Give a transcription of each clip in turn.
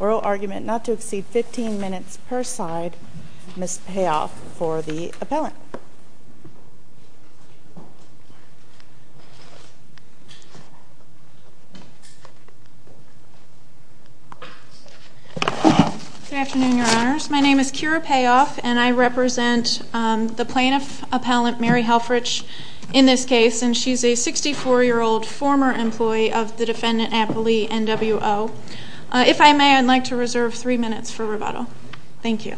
Oral argument not to exceed 15 minutes per side, Ms. Payoff for the appellant. Good afternoon, your honors. My name is Kira Payoff and I represent the plaintiff appellant Mary Helfrich in this case. And she's a 64-year-old former employee of the defendant, Appley, NWO. If I may, I'd like to reserve three minutes for rebuttal. Thank you.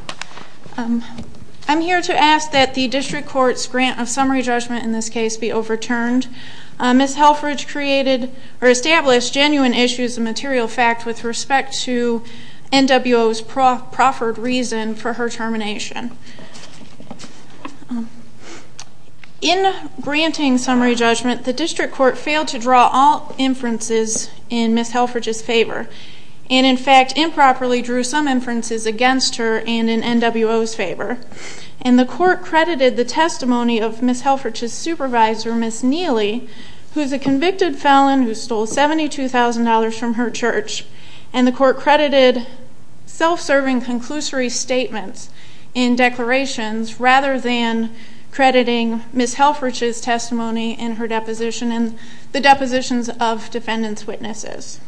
I'm here to ask that the district court's grant of summary judgment in this case be overturned. Ms. Helfrich established genuine issues of material fact with respect to NWO's proffered reason for her termination. In granting summary judgment, the district court failed to draw all inferences in Ms. Helfrich's favor. And in fact, improperly drew some inferences against her and in NWO's favor. And the court credited the testimony of Ms. Helfrich's supervisor, Ms. Neely, who's a convicted felon who stole $72,000 from her church. And the court credited self-serving conclusory statements in declarations rather than crediting Ms. Helfrich's testimony in her deposition and the depositions of defendant's witnesses.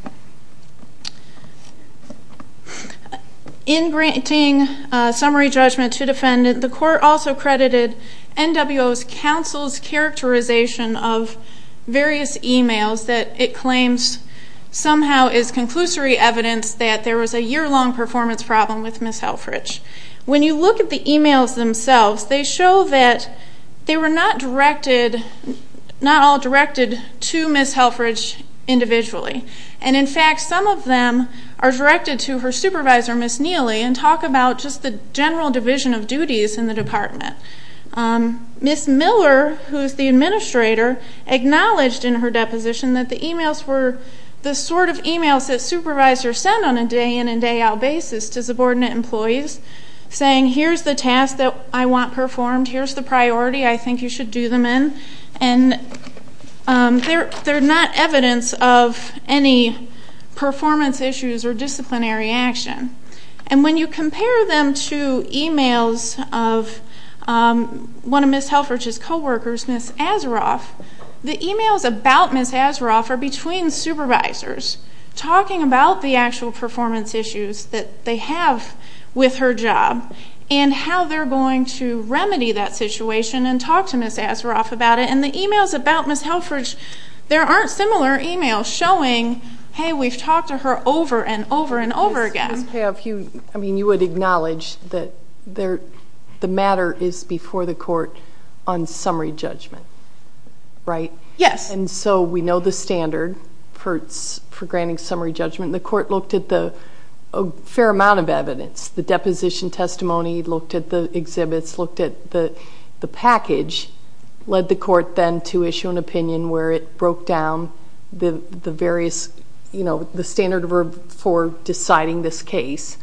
In granting summary judgment to defendant, the court also credited NWO's counsel's characterization of various emails that it claims somehow is conclusory evidence that there was a year-long performance problem with Ms. Helfrich. When you look at the emails themselves, they show that they were not all directed to Ms. Helfrich individually. And in fact, some of them are directed to her supervisor, Ms. Neely, and talk about just the general division of duties in the department. Ms. Miller, who's the administrator, acknowledged in her deposition that the emails were the sort of emails that supervisors send on a day-in and day-out basis to subordinate employees saying, here's the task that I want performed, here's the priority I think you should do them in. And they're not evidence of any performance issues or disciplinary action. And when you compare them to emails of one of Ms. Helfrich's coworkers, Ms. Azaroff, the emails about Ms. Azaroff are between supervisors talking about the actual performance issues that they have with her job and how they're going to remedy that situation and talk to Ms. Azaroff about it. And the emails about Ms. Helfrich, there aren't similar emails showing, hey, we've talked to her over and over and over again. I mean, you would acknowledge that the matter is before the court on summary judgment, right? Yes. And so we know the standard for granting summary judgment. testimony, looked at the exhibits, looked at the package, led the court then to issue an opinion where it broke down the various, you know, the standard for deciding this case.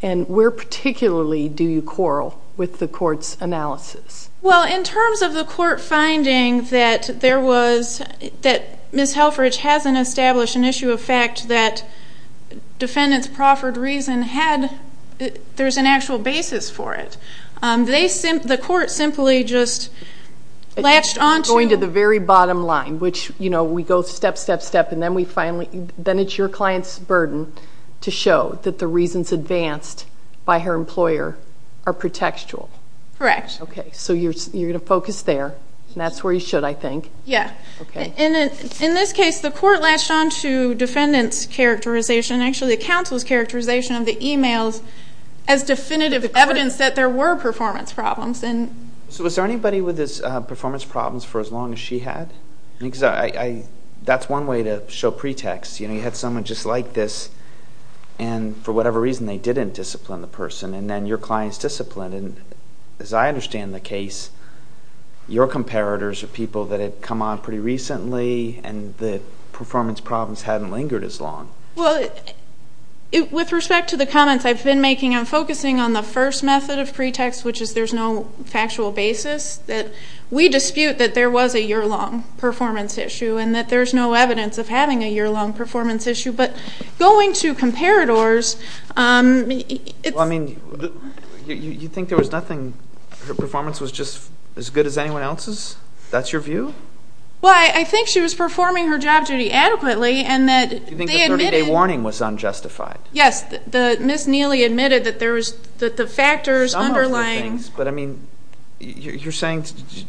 And where particularly do you quarrel with the court's analysis? Well, in terms of the court finding that there was, that Ms. Helfrich hasn't established an issue of fact that defendant's proffered reason had, there's an actual basis for it. The court simply just latched on to. Going to the very bottom line, which, you know, we go step, step, step, and then we finally, then it's your client's burden to show that the reasons advanced by her employer are pretextual. Correct. Okay, so you're going to focus there, and that's where you should, I think. Yeah. Okay. In this case, the court latched on to defendant's characterization, actually the counsel's characterization of the e-mails as definitive evidence that there were performance problems. So was there anybody with performance problems for as long as she had? Because that's one way to show pretext. You know, you had someone just like this, and for whatever reason they didn't discipline the person, and then your client's disciplined. As I understand the case, your comparators are people that had come on pretty recently and the performance problems hadn't lingered as long. Well, with respect to the comments I've been making, I'm focusing on the first method of pretext, which is there's no factual basis. We dispute that there was a year-long performance issue and that there's no evidence of having a year-long performance issue. But going to comparators, it's ‑‑ Well, I mean, you think there was nothing? Her performance was just as good as anyone else's? That's your view? Well, I think she was performing her job duty adequately and that they admitted ‑‑ You think the 30-day warning was unjustified? Yes. Ms. Neely admitted that the factors underlying ‑‑ Some of the things, but I mean, you're saying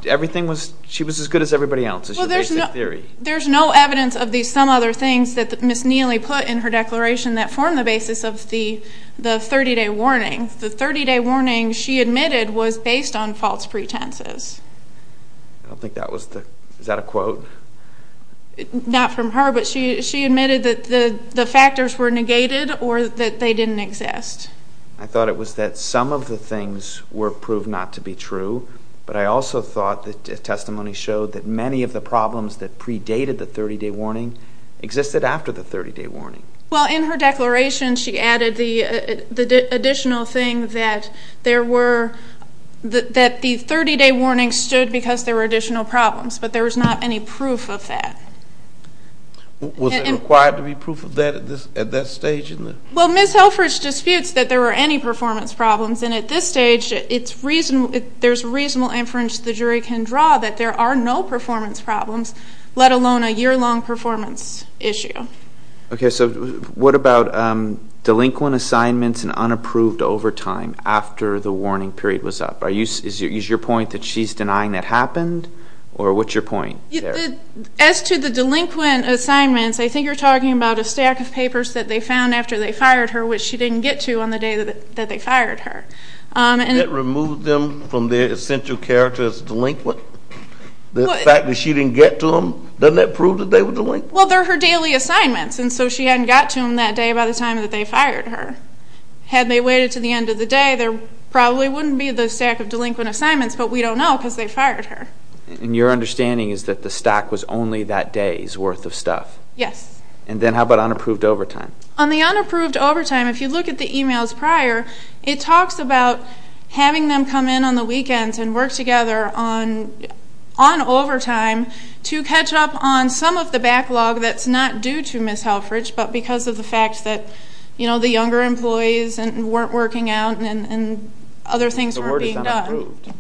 everything was ‑‑ she was as good as everybody else is your basic theory. Well, there's no evidence of these some other things that Ms. Neely put in her declaration that form the basis of the 30-day warning. The 30-day warning, she admitted, was based on false pretenses. I don't think that was the ‑‑ is that a quote? Not from her, but she admitted that the factors were negated or that they didn't exist. I thought it was that some of the things were proved not to be true, but I also thought the testimony showed that many of the problems that predated the 30-day warning existed after the 30-day warning. Well, in her declaration, she added the additional thing that there were ‑‑ that the 30-day warning stood because there were additional problems, but there was not any proof of that. Was it required to be proof of that at that stage? Well, Ms. Helfrich disputes that there were any performance problems, and at this stage, there's reasonable inference the jury can draw that there are no performance problems, let alone a year‑long performance issue. Okay, so what about delinquent assignments and unapproved overtime after the warning period was up? Is your point that she's denying that happened, or what's your point there? As to the delinquent assignments, I think you're talking about a stack of papers that they found after they fired her, which she didn't get to on the day that they fired her. That removed them from their essential character as delinquent? The fact that she didn't get to them, doesn't that prove that they were delinquent? Well, they're her daily assignments, and so she hadn't got to them that day by the time that they fired her. Had they waited to the end of the day, there probably wouldn't be the stack of delinquent assignments, but we don't know because they fired her. And your understanding is that the stack was only that day's worth of stuff? Yes. And then how about unapproved overtime? On the unapproved overtime, if you look at the emails prior, it talks about having them come in on the weekends and work together on overtime to catch up on some of the backlog that's not due to Ms. Halfridge, but because of the fact that, you know, the younger employees weren't working out and other things weren't being done. The word is unapproved.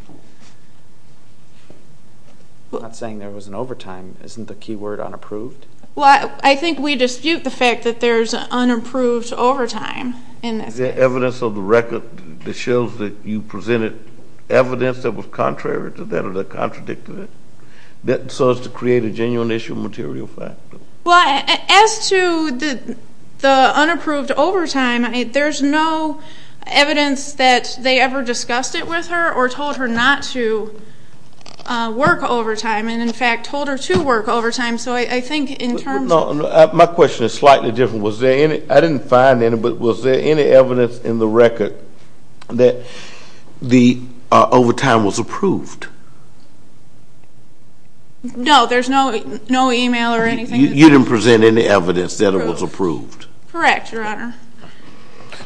I'm not saying there wasn't overtime. Isn't the key word unapproved? Well, I think we dispute the fact that there's unapproved overtime in this case. Is there evidence of the record that shows that you presented evidence that was contrary to that or that contradicted it so as to create a genuine issue of material fact? Well, as to the unapproved overtime, there's no evidence that they ever discussed it with her or told her not to work overtime and, in fact, told her to work overtime. So I think in terms of the – No, my question is slightly different. I didn't find any, but was there any evidence in the record that the overtime was approved? No, there's no email or anything. You didn't present any evidence that it was approved? Correct, Your Honor.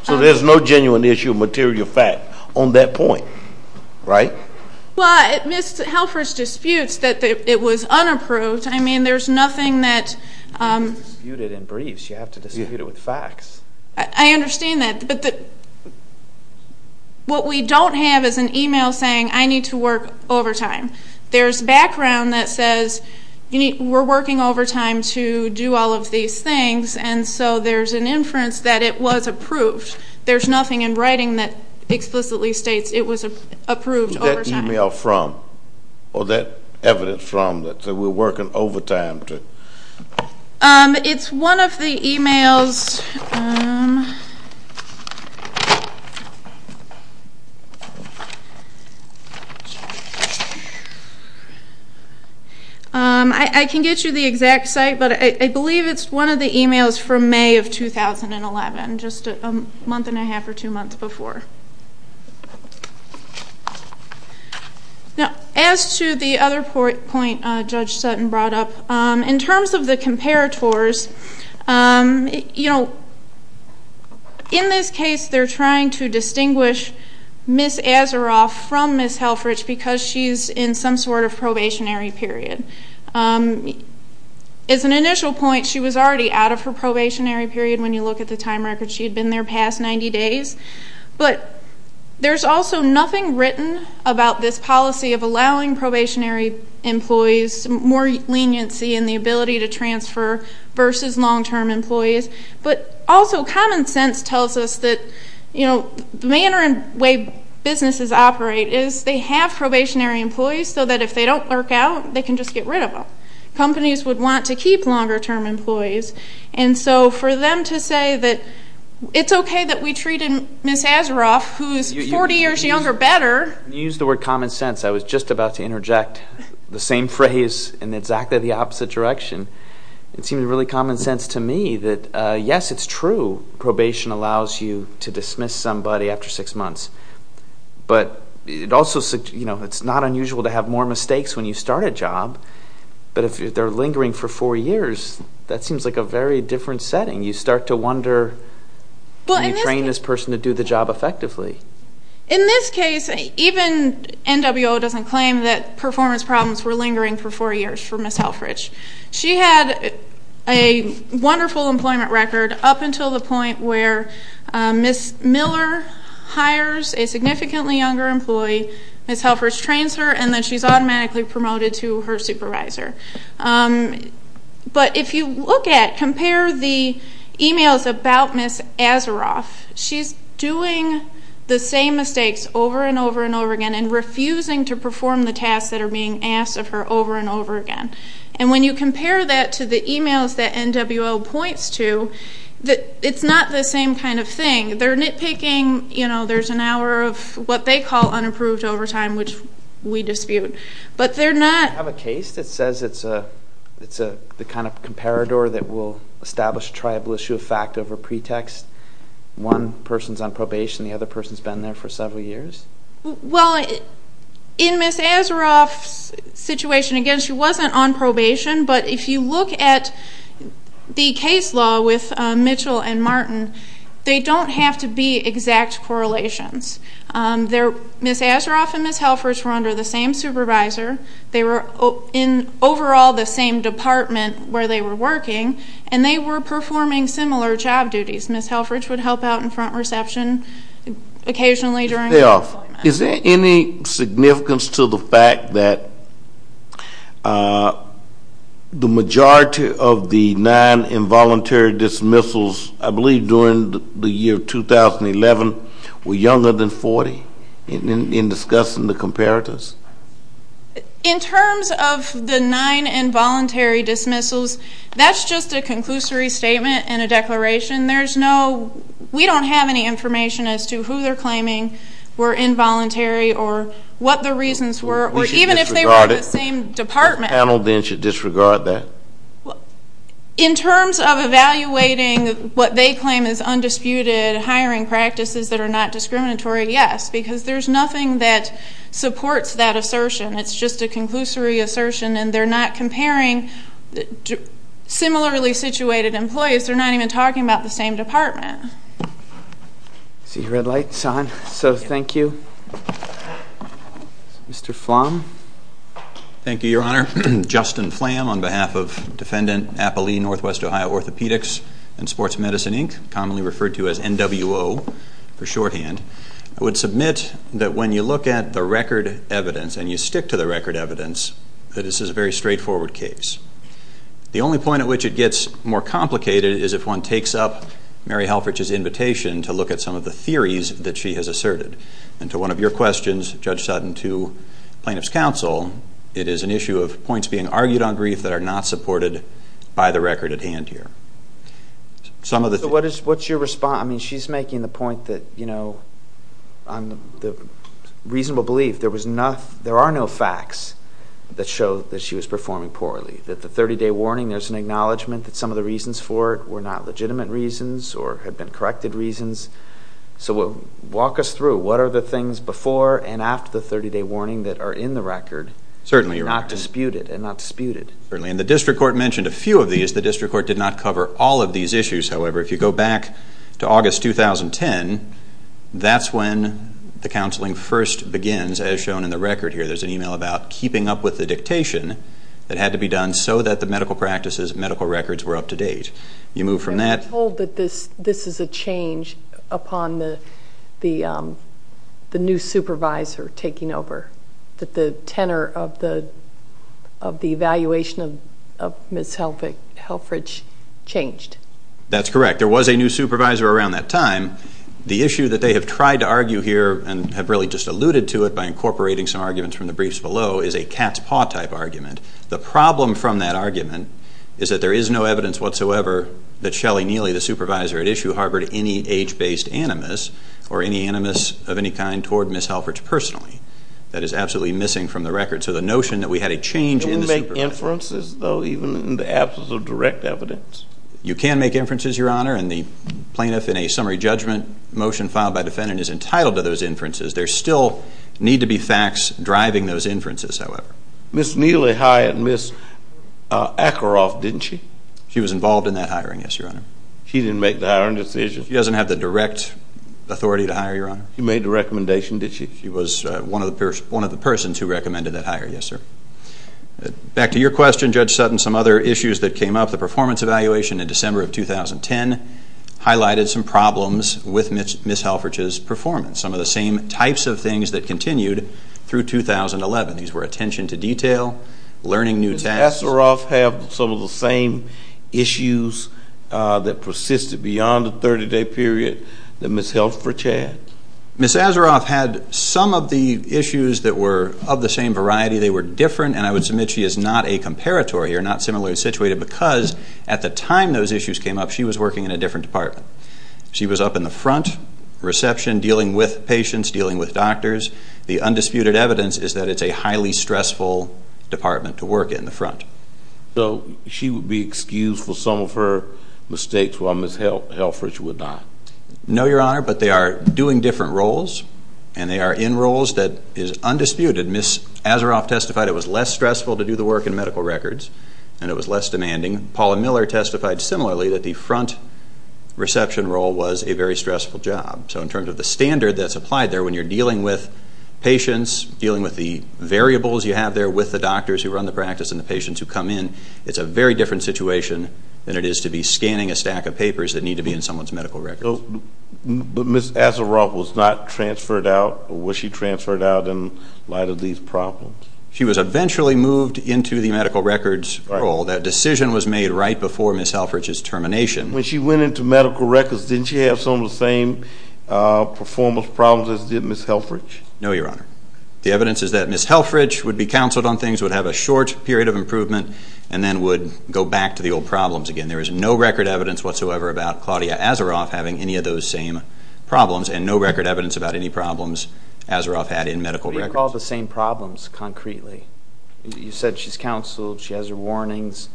So there's no genuine issue of material fact on that point, right? Well, Ms. Halfridge disputes that it was unapproved. I mean, there's nothing that – You can't dispute it in briefs. You have to dispute it with facts. I understand that, but what we don't have is an email saying, I need to work overtime. There's background that says we're working overtime to do all of these things, and so there's an inference that it was approved. There's nothing in writing that explicitly states it was approved overtime. Who's that email from or that evidence from that we're working overtime to – It's one of the emails – I can get you the exact site, but I believe it's one of the emails from May of 2011, just a month and a half or two months before. Now, as to the other point Judge Sutton brought up, in terms of the comparators, in this case they're trying to distinguish Ms. Azaroff from Ms. Halfridge because she's in some sort of probationary period. As an initial point, she was already out of her probationary period when you look at the time record. She had been there past 90 days. But there's also nothing written about this policy of allowing probationary employees more leniency in the ability to transfer versus long-term employees. But also common sense tells us that the manner and way businesses operate is they have probationary employees so that if they don't work out, they can just get rid of them. Companies would want to keep longer-term employees, and so for them to say that it's okay that we treated Ms. Azaroff, who's 40 years younger, better. You used the word common sense. I was just about to interject the same phrase in exactly the opposite direction. It seems really common sense to me that, yes, it's true. Probation allows you to dismiss somebody after six months. But it's not unusual to have more mistakes when you start a job. But if they're lingering for four years, that seems like a very different setting. You start to wonder how you train this person to do the job effectively. In this case, even NWO doesn't claim that performance problems were lingering for four years for Ms. Helfrich. She had a wonderful employment record up until the point where Ms. Miller hires a significantly younger employee, Ms. Helfrich trains her, and then she's automatically promoted to her supervisor. But if you look at, compare the emails about Ms. Azaroff, she's doing the same mistakes over and over and over again and refusing to perform the tasks that are being asked of her over and over again. And when you compare that to the emails that NWO points to, it's not the same kind of thing. They're nitpicking. There's an hour of what they call unapproved overtime, which we dispute. Do you have a case that says it's the kind of comparator that will establish a tribal issue of fact over pretext? One person's on probation, the other person's been there for several years? Well, in Ms. Azaroff's situation, again, she wasn't on probation, but if you look at the case law with Mitchell and Martin, they don't have to be exact correlations. Ms. Azaroff and Ms. Helfrich were under the same supervisor. They were in overall the same department where they were working, and they were performing similar job duties. Ms. Helfrich would help out in front reception occasionally during employment. Is there any significance to the fact that the majority of the nine involuntary dismissals, I believe during the year 2011, were younger than 40 in discussing the comparators? In terms of the nine involuntary dismissals, that's just a conclusory statement and a declaration. We don't have any information as to who they're claiming were involuntary or what the reasons were, or even if they were in the same department. The panel then should disregard that. In terms of evaluating what they claim is undisputed hiring practices that are not discriminatory, yes, because there's nothing that supports that assertion. It's just a conclusory assertion, and they're not comparing similarly situated employees. They're not even talking about the same department. I see red lights on, so thank you. Mr. Flom. Thank you, Your Honor. Justin Flam on behalf of Defendant Appalee Northwest Ohio Orthopedics and Sports Medicine, Inc., commonly referred to as NWO for shorthand. I would submit that when you look at the record evidence and you stick to the record evidence, that this is a very straightforward case. The only point at which it gets more complicated is if one takes up Mary Helfrich's invitation to look at some of the theories that she has asserted. And to one of your questions, Judge Sutton, to plaintiff's counsel, it is an issue of points being argued on brief that are not supported by the record at hand here. So what's your response? I mean, she's making the point that, you know, on the reasonable belief, there are no facts that show that she was performing poorly, that the 30-day warning, there's an acknowledgment that some of the reasons for it were not legitimate reasons or had been corrected reasons. So walk us through. What are the things before and after the 30-day warning that are in the record and not disputed? Certainly. And the district court mentioned a few of these. The district court did not cover all of these issues. However, if you go back to August 2010, that's when the counseling first begins, as shown in the record here. There's an email about keeping up with the dictation that had to be done so that the medical practices and medical records were up to date. You move from that... ...upon the new supervisor taking over, that the tenor of the evaluation of Ms. Helfrich changed. That's correct. There was a new supervisor around that time. The issue that they have tried to argue here and have really just alluded to it by incorporating some arguments from the briefs below is a cat's-paw type argument. The problem from that argument is that there is no evidence whatsoever that Shelley Neely, the supervisor at issue, harbored any age-based animus or any animus of any kind toward Ms. Helfrich personally. That is absolutely missing from the record. So the notion that we had a change in the supervisor... Can we make inferences, though, even in the absence of direct evidence? You can make inferences, Your Honor, and the plaintiff in a summary judgment motion filed by defendant is entitled to those inferences. There still need to be facts driving those inferences, however. Ms. Neely hired Ms. Ackeroff, didn't she? She was involved in that hiring, yes, Your Honor. She didn't make the hiring decision? She doesn't have the direct authority to hire, Your Honor. She made the recommendation, did she? She was one of the persons who recommended that hire, yes, sir. Back to your question, Judge Sutton, some other issues that came up. The performance evaluation in December of 2010 highlighted some problems with Ms. Helfrich's performance, some of the same types of things that continued through 2011. These were attention to detail, learning new tasks. Did Ms. Ackeroff have some of the same issues that persisted beyond the 30-day period that Ms. Helfrich had? Ms. Ackeroff had some of the issues that were of the same variety. They were different, and I would submit she is not a comparatory or not similarly situated because at the time those issues came up, she was working in a different department. She was up in the front reception dealing with patients, dealing with doctors. The undisputed evidence is that it's a highly stressful department to work in, the front. So she would be excused for some of her mistakes while Ms. Helfrich would not? No, Your Honor, but they are doing different roles, and they are in roles that is undisputed. Ms. Ackeroff testified it was less stressful to do the work in medical records, and it was less demanding. Paula Miller testified similarly that the front reception role was a very stressful job. So in terms of the standard that's applied there when you're dealing with patients, dealing with the variables you have there with the doctors who run the practice and the patients who come in, it's a very different situation than it is to be scanning a stack of papers that need to be in someone's medical records. But Ms. Ackeroff was not transferred out, or was she transferred out in light of these problems? She was eventually moved into the medical records role. That decision was made right before Ms. Helfrich's termination. When she went into medical records, didn't she have some of the same performance problems as did Ms. Helfrich? No, Your Honor. The evidence is that Ms. Helfrich would be counseled on things, would have a short period of improvement, and then would go back to the old problems again. There is no record evidence whatsoever about Claudia Ackeroff having any of those same problems, and no record evidence about any problems Ackeroff had in medical records. What do you call the same problems concretely? You said she's counseled, she has her warnings.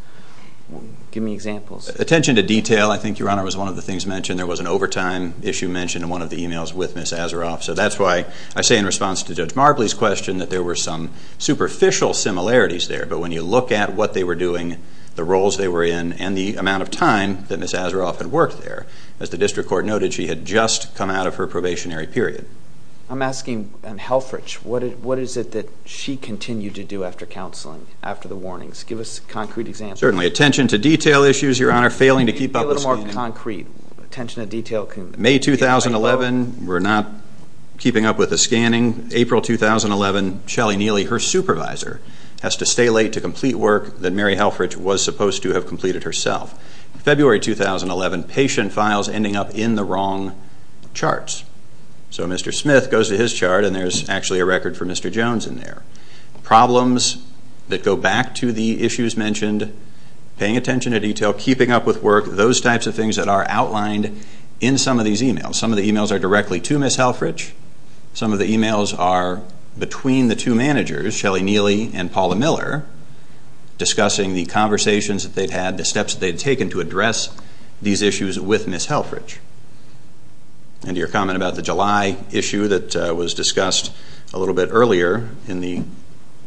Give me examples. Attention to detail, I think, Your Honor, was one of the things mentioned. There was an overtime issue mentioned in one of the emails with Ms. Ackeroff. So that's why I say in response to Judge Marbley's question that there were some superficial similarities there. But when you look at what they were doing, the roles they were in, and the amount of time that Ms. Ackeroff had worked there, as the district court noted, she had just come out of her probationary period. I'm asking Helfrich, what is it that she continued to do after counseling, after the warnings? Give us a concrete example. Certainly. Attention to detail issues, Your Honor, failing to keep up with scanning. Be a little more concrete. Attention to detail. May 2011, we're not keeping up with the scanning. April 2011, Shelley Neely, her supervisor, has to stay late to complete work that Mary Helfrich was supposed to have completed herself. February 2011, patient files ending up in the wrong charts. So Mr. Smith goes to his chart, and there's actually a record for Mr. Jones in there. Problems that go back to the issues mentioned. Paying attention to detail, keeping up with work, those types of things that are outlined in some of these emails. Some of the emails are directly to Ms. Helfrich. Some of the emails are between the two managers, Shelley Neely and Paula Miller, discussing the conversations that they've had, the steps that they've taken to address these issues with Ms. Helfrich. And your comment about the July issue that was discussed a little bit earlier in the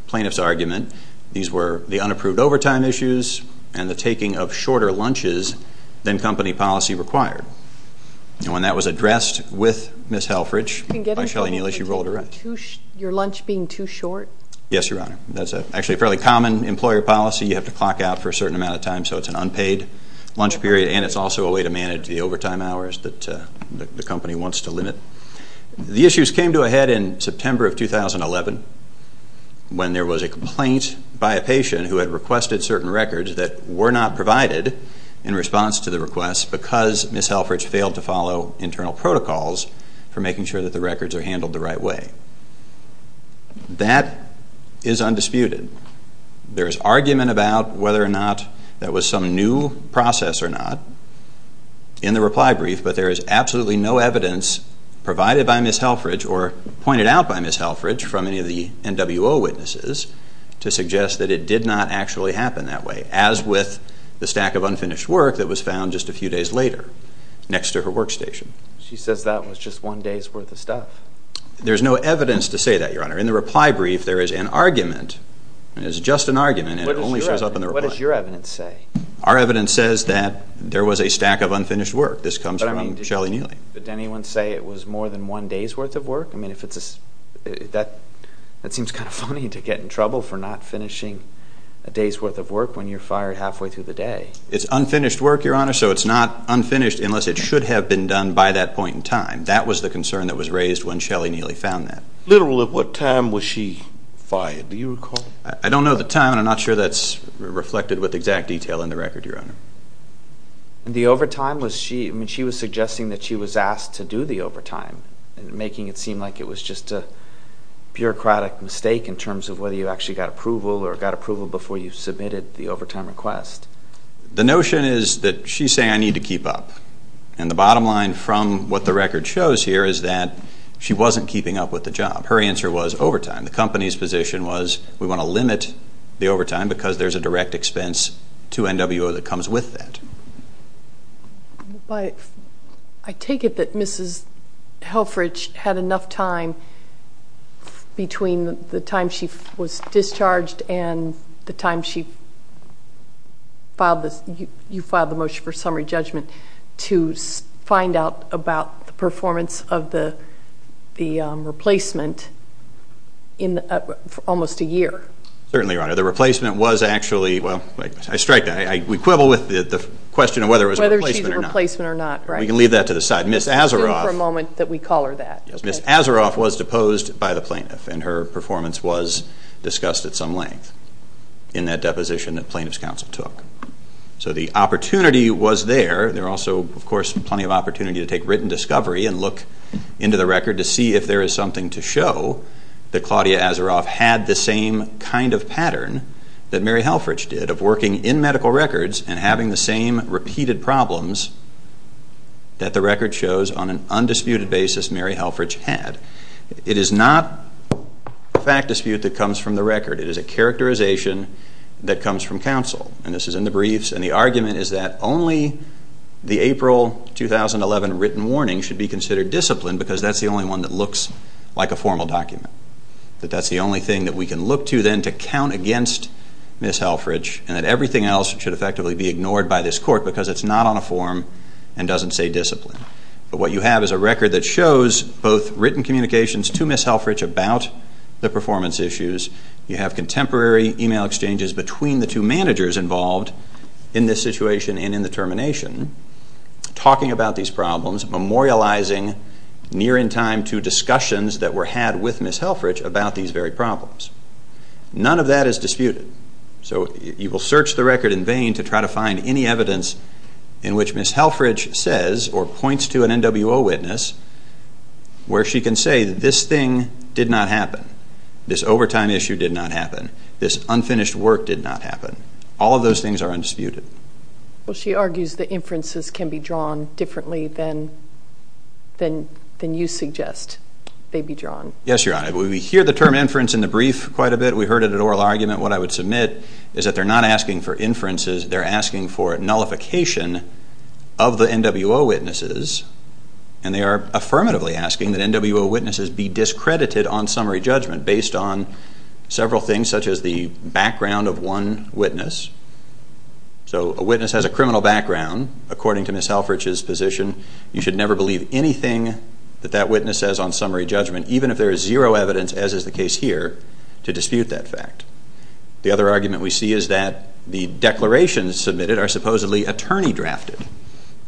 plaintiff's argument, these were the unapproved overtime issues and the taking of shorter lunches than company policy required. And when that was addressed with Ms. Helfrich by Shelley Neely, she rolled her eyes. Your lunch being too short? Yes, Your Honor. That's actually a fairly common employer policy. You have to clock out for a certain amount of time, so it's an unpaid lunch period, and it's also a way to manage the overtime hours that the company wants to limit. The issues came to a head in September of 2011 when there was a complaint by a patient who had requested certain records that were not provided in response to the request because Ms. Helfrich failed to follow internal protocols for making sure that the records are handled the right way. That is undisputed. There is argument about whether or not that was some new process or not in the reply brief, but there is absolutely no evidence provided by Ms. Helfrich or pointed out by Ms. Helfrich from any of the NWO witnesses to suggest that it did not actually happen that way, as with the stack of unfinished work that was found just a few days later next to her workstation. She says that was just one day's worth of stuff. There's no evidence to say that, Your Honor. In the reply brief, there is an argument, and it's just an argument, and it only shows up in the reply. What does your evidence say? Our evidence says that there was a stack of unfinished work. This comes from Shelly Neely. Did anyone say it was more than one day's worth of work? That seems kind of funny to get in trouble for not finishing a day's worth of work when you're fired halfway through the day. It's unfinished work, Your Honor, so it's not unfinished unless it should have been done by that point in time. That was the concern that was raised when Shelly Neely found that. Literally, at what time was she fired? Do you recall? I don't know the time, and I'm not sure that's reflected with exact detail in the record, Your Honor. The overtime was she was suggesting that she was asked to do the overtime and making it seem like it was just a bureaucratic mistake in terms of whether you actually got approval or got approval before you submitted the overtime request. The notion is that she's saying, I need to keep up, and the bottom line from what the record shows here is that she wasn't keeping up with the job. Her answer was overtime. The company's position was we want to limit the overtime because there's a direct expense to NWO that comes with that. I take it that Mrs. Helfrich had enough time between the time she was discharged and the time you filed the motion for summary judgment to find out about the performance of the replacement in almost a year. Certainly, Your Honor. The replacement was actually, well, I strike that. We quibble with the question of whether it was a replacement or not. Whether she's a replacement or not, right. We can leave that to the side. Let's assume for a moment that we call her that. Ms. Azaroff was deposed by the plaintiff, and her performance was discussed at some length in that deposition that plaintiff's counsel took. So the opportunity was there. There also, of course, plenty of opportunity to take written discovery and look into the record to see if there is something to show that Claudia Azaroff had the same kind of pattern that Mary Helfrich did of working in medical records and having the same repeated problems that the record shows on an undisputed basis Mary Helfrich had. It is not a fact dispute that comes from the record. It is a characterization that comes from counsel, and this is in the briefs, and the argument is that only the April 2011 written warning should be considered discipline because that's the only one that looks like a formal document, that that's the only thing that we can look to then to count against Ms. Helfrich and that everything else should effectively be ignored by this court because it's not on a form and doesn't say discipline. But what you have is a record that shows both written communications to Ms. Helfrich about the performance issues. You have contemporary email exchanges between the two managers involved in this situation and in the termination, talking about these problems, memorializing near in time to discussions that were had with Ms. Helfrich about these very problems. None of that is disputed. So you will search the record in vain to try to find any evidence in which Ms. Helfrich says or points to an NWO witness where she can say this thing did not happen, this overtime issue did not happen, this unfinished work did not happen. All of those things are undisputed. Well, she argues that inferences can be drawn differently than you suggest they be drawn. Yes, Your Honor. We hear the term inference in the brief quite a bit. We heard it at oral argument. What I would submit is that they're not asking for inferences, they're asking for nullification of the NWO witnesses and they are affirmatively asking that NWO witnesses be discredited on summary judgment based on several things such as the background of one witness. So a witness has a criminal background. According to Ms. Helfrich's position, you should never believe anything that that witness says on summary judgment, even if there is zero evidence, as is the case here, to dispute that fact. The other argument we see is that the declarations submitted are supposedly attorney-drafted,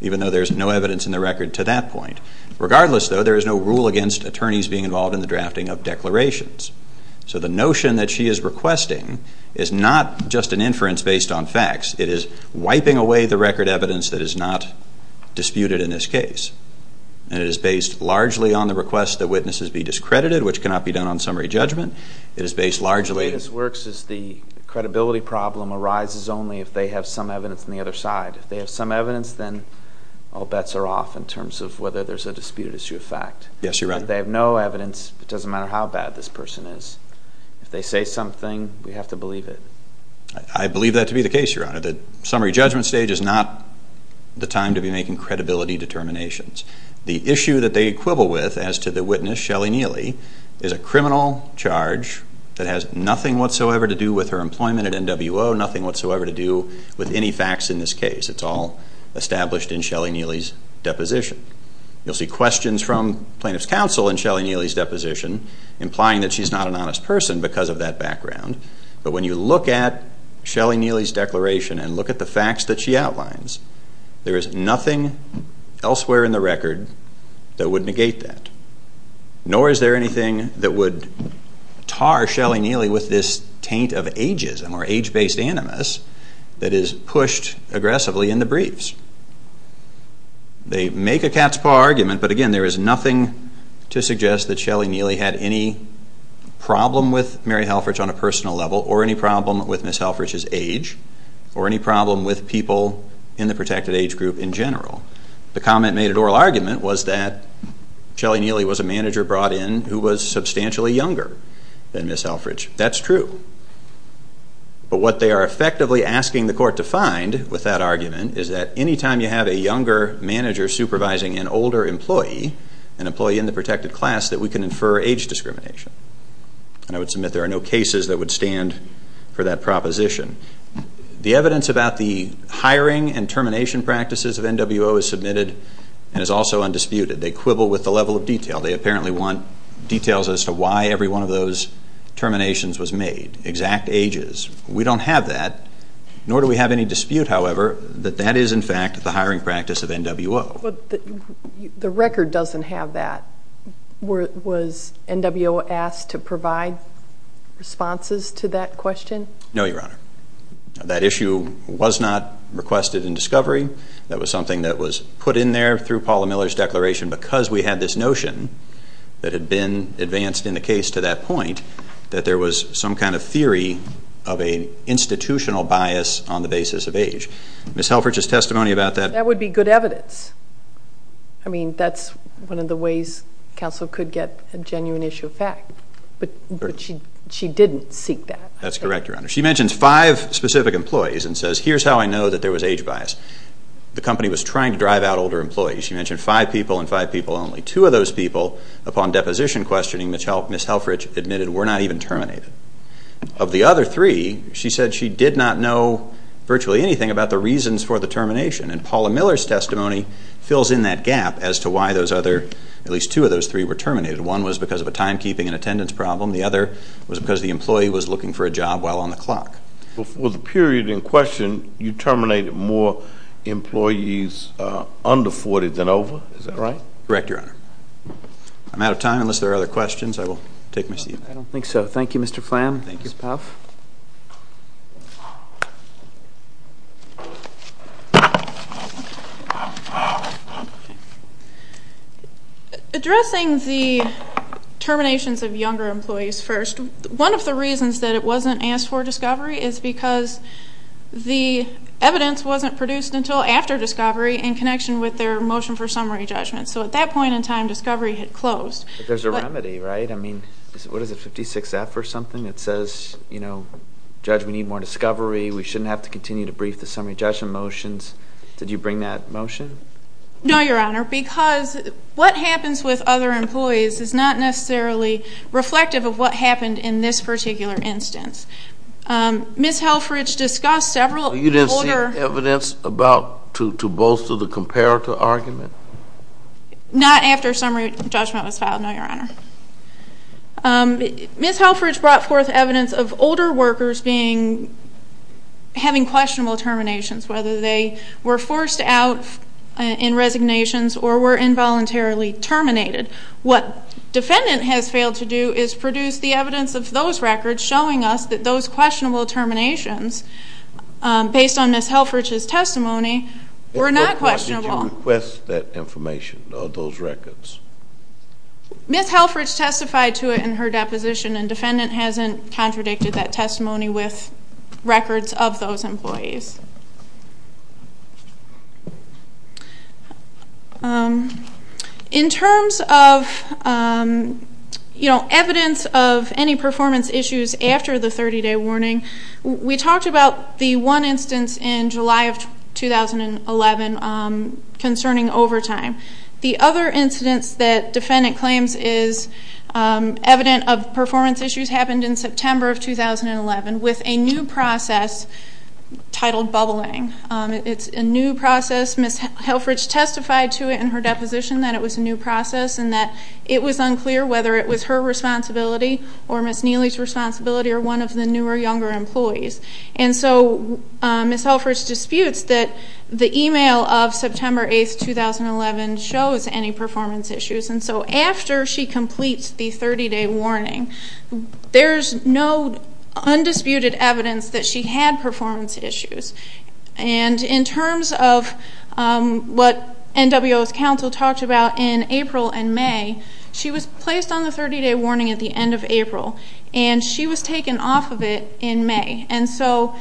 even though there is no evidence in the record to that point. Regardless, though, there is no rule against attorneys being involved in the drafting of declarations. So the notion that she is requesting is not just an inference based on facts. It is wiping away the record evidence that is not disputed in this case. And it is based largely on the request that witnesses be discredited, which cannot be done on summary judgment. It is based largely... The way this works is the credibility problem arises only if they have some evidence on the other side. If they have some evidence, then all bets are off in terms of whether there is a disputed issue of fact. Yes, you're right. If they have no evidence, it doesn't matter how bad this person is. If they say something, we have to believe it. I believe that to be the case, Your Honor. The summary judgment stage is not the time to be making credibility determinations. The issue that they quibble with as to the witness, Shelley Neely, is a criminal charge that has nothing whatsoever to do with her employment at NWO, nothing whatsoever to do with any facts in this case. It's all established in Shelley Neely's deposition. You'll see questions from plaintiff's counsel in Shelley Neely's deposition implying that she's not an honest person because of that background. But when you look at Shelley Neely's declaration and look at the facts that she outlines, there is nothing elsewhere in the record that would negate that. Nor is there anything that would tar Shelley Neely with this taint of ageism or age-based animus that is pushed aggressively in the briefs. They make a cat's paw argument, but again, there is nothing to suggest that Shelley Neely had any problem with Mary Halfridge on a personal level or any problem with Ms. Halfridge's age or any problem with people in the protected age group in general. The comment made at oral argument was that Shelley Neely was a manager brought in who was substantially younger than Ms. Halfridge. That's true. But what they are effectively asking the court to find with that argument is that any time you have a younger manager supervising an older employee, an employee in the protected class, that we can infer age discrimination. And I would submit there are no cases that would stand for that proposition. The evidence about the hiring and termination practices of NWO is submitted and is also undisputed. They quibble with the level of detail. They apparently want details as to why every one of those terminations was made, exact ages. We don't have that, nor do we have any dispute, however, that that is, in fact, the hiring practice of NWO. The record doesn't have that. Was NWO asked to provide responses to that question? No, Your Honor. That issue was not requested in discovery. That was something that was put in there through Paula Miller's declaration because we had this notion that had been advanced in the case to that point that there was some kind of theory of an institutional bias on the basis of age. Ms. Halfridge's testimony about that. That would be good evidence. I mean, that's one of the ways counsel could get a genuine issue of fact. But she didn't seek that. That's correct, Your Honor. She mentions five specific employees and says, here's how I know that there was age bias. The company was trying to drive out older employees. She mentioned five people and five people only. Two of those people, upon deposition questioning, Ms. Halfridge admitted were not even terminated. Of the other three, she said she did not know virtually anything about the reasons for the termination. And Paula Miller's testimony fills in that gap as to why those other, at least two of those three, were terminated. One was because of a timekeeping and attendance problem. The other was because the employee was looking for a job while on the clock. For the period in question, you terminated more employees under 40 than over. Is that right? Correct, Your Honor. I'm out of time. Unless there are other questions, I will take my seat. I don't think so. Thank you, Mr. Flan. Thank you. Ms. Palfe. Addressing the terminations of younger employees first, one of the reasons that it wasn't asked for discovery is because the evidence wasn't produced until after discovery in connection with their motion for summary judgment. So at that point in time, discovery had closed. But there's a remedy, right? I mean, what is it, 56F or something that says, you know, discovery, we shouldn't have to continue to brief the summary judgment motions. Did you bring that motion? No, Your Honor, because what happens with other employees is not necessarily reflective of what happened in this particular instance. Ms. Helfrich discussed several older. You didn't see evidence to bolster the comparative argument? Not after summary judgment was filed, no, Your Honor. Ms. Helfrich brought forth evidence of older workers having questionable terminations, whether they were forced out in resignations or were involuntarily terminated. What defendant has failed to do is produce the evidence of those records showing us that those questionable terminations, based on Ms. Helfrich's testimony, were not questionable. Did you request that information or those records? Ms. Helfrich testified to it in her deposition, and defendant hasn't contradicted that testimony with records of those employees. In terms of evidence of any performance issues after the 30-day warning, we talked about the one instance in July of 2011 concerning overtime. The other incidence that defendant claims is evident of performance issues happened in September of 2011 with a new process titled bubbling. It's a new process. Ms. Helfrich testified to it in her deposition that it was a new process and that it was unclear whether it was her responsibility or Ms. Neely's responsibility or one of the newer, younger employees. And so Ms. Helfrich disputes that the email of September 8, 2011 shows any performance issues. And so after she completes the 30-day warning, there's no undisputed evidence that she had performance issues. And in terms of what NWO's counsel talked about in April and May, she was placed on the 30-day warning at the end of April, and she was taken off of it in May. And so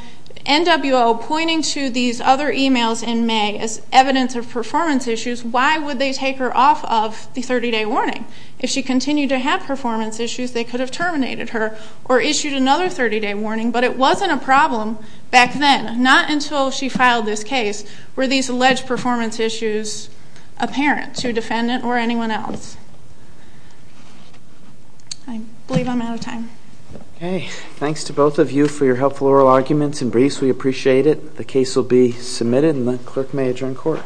NWO pointing to these other emails in May as evidence of performance issues, why would they take her off of the 30-day warning? If she continued to have performance issues, they could have terminated her or issued another 30-day warning. But it wasn't a problem back then, not until she filed this case, were these alleged performance issues apparent to defendant or anyone else. I believe I'm out of time. Okay. Thanks to both of you for your helpful oral arguments and briefs. We appreciate it. The case will be submitted, and the clerk may adjourn court.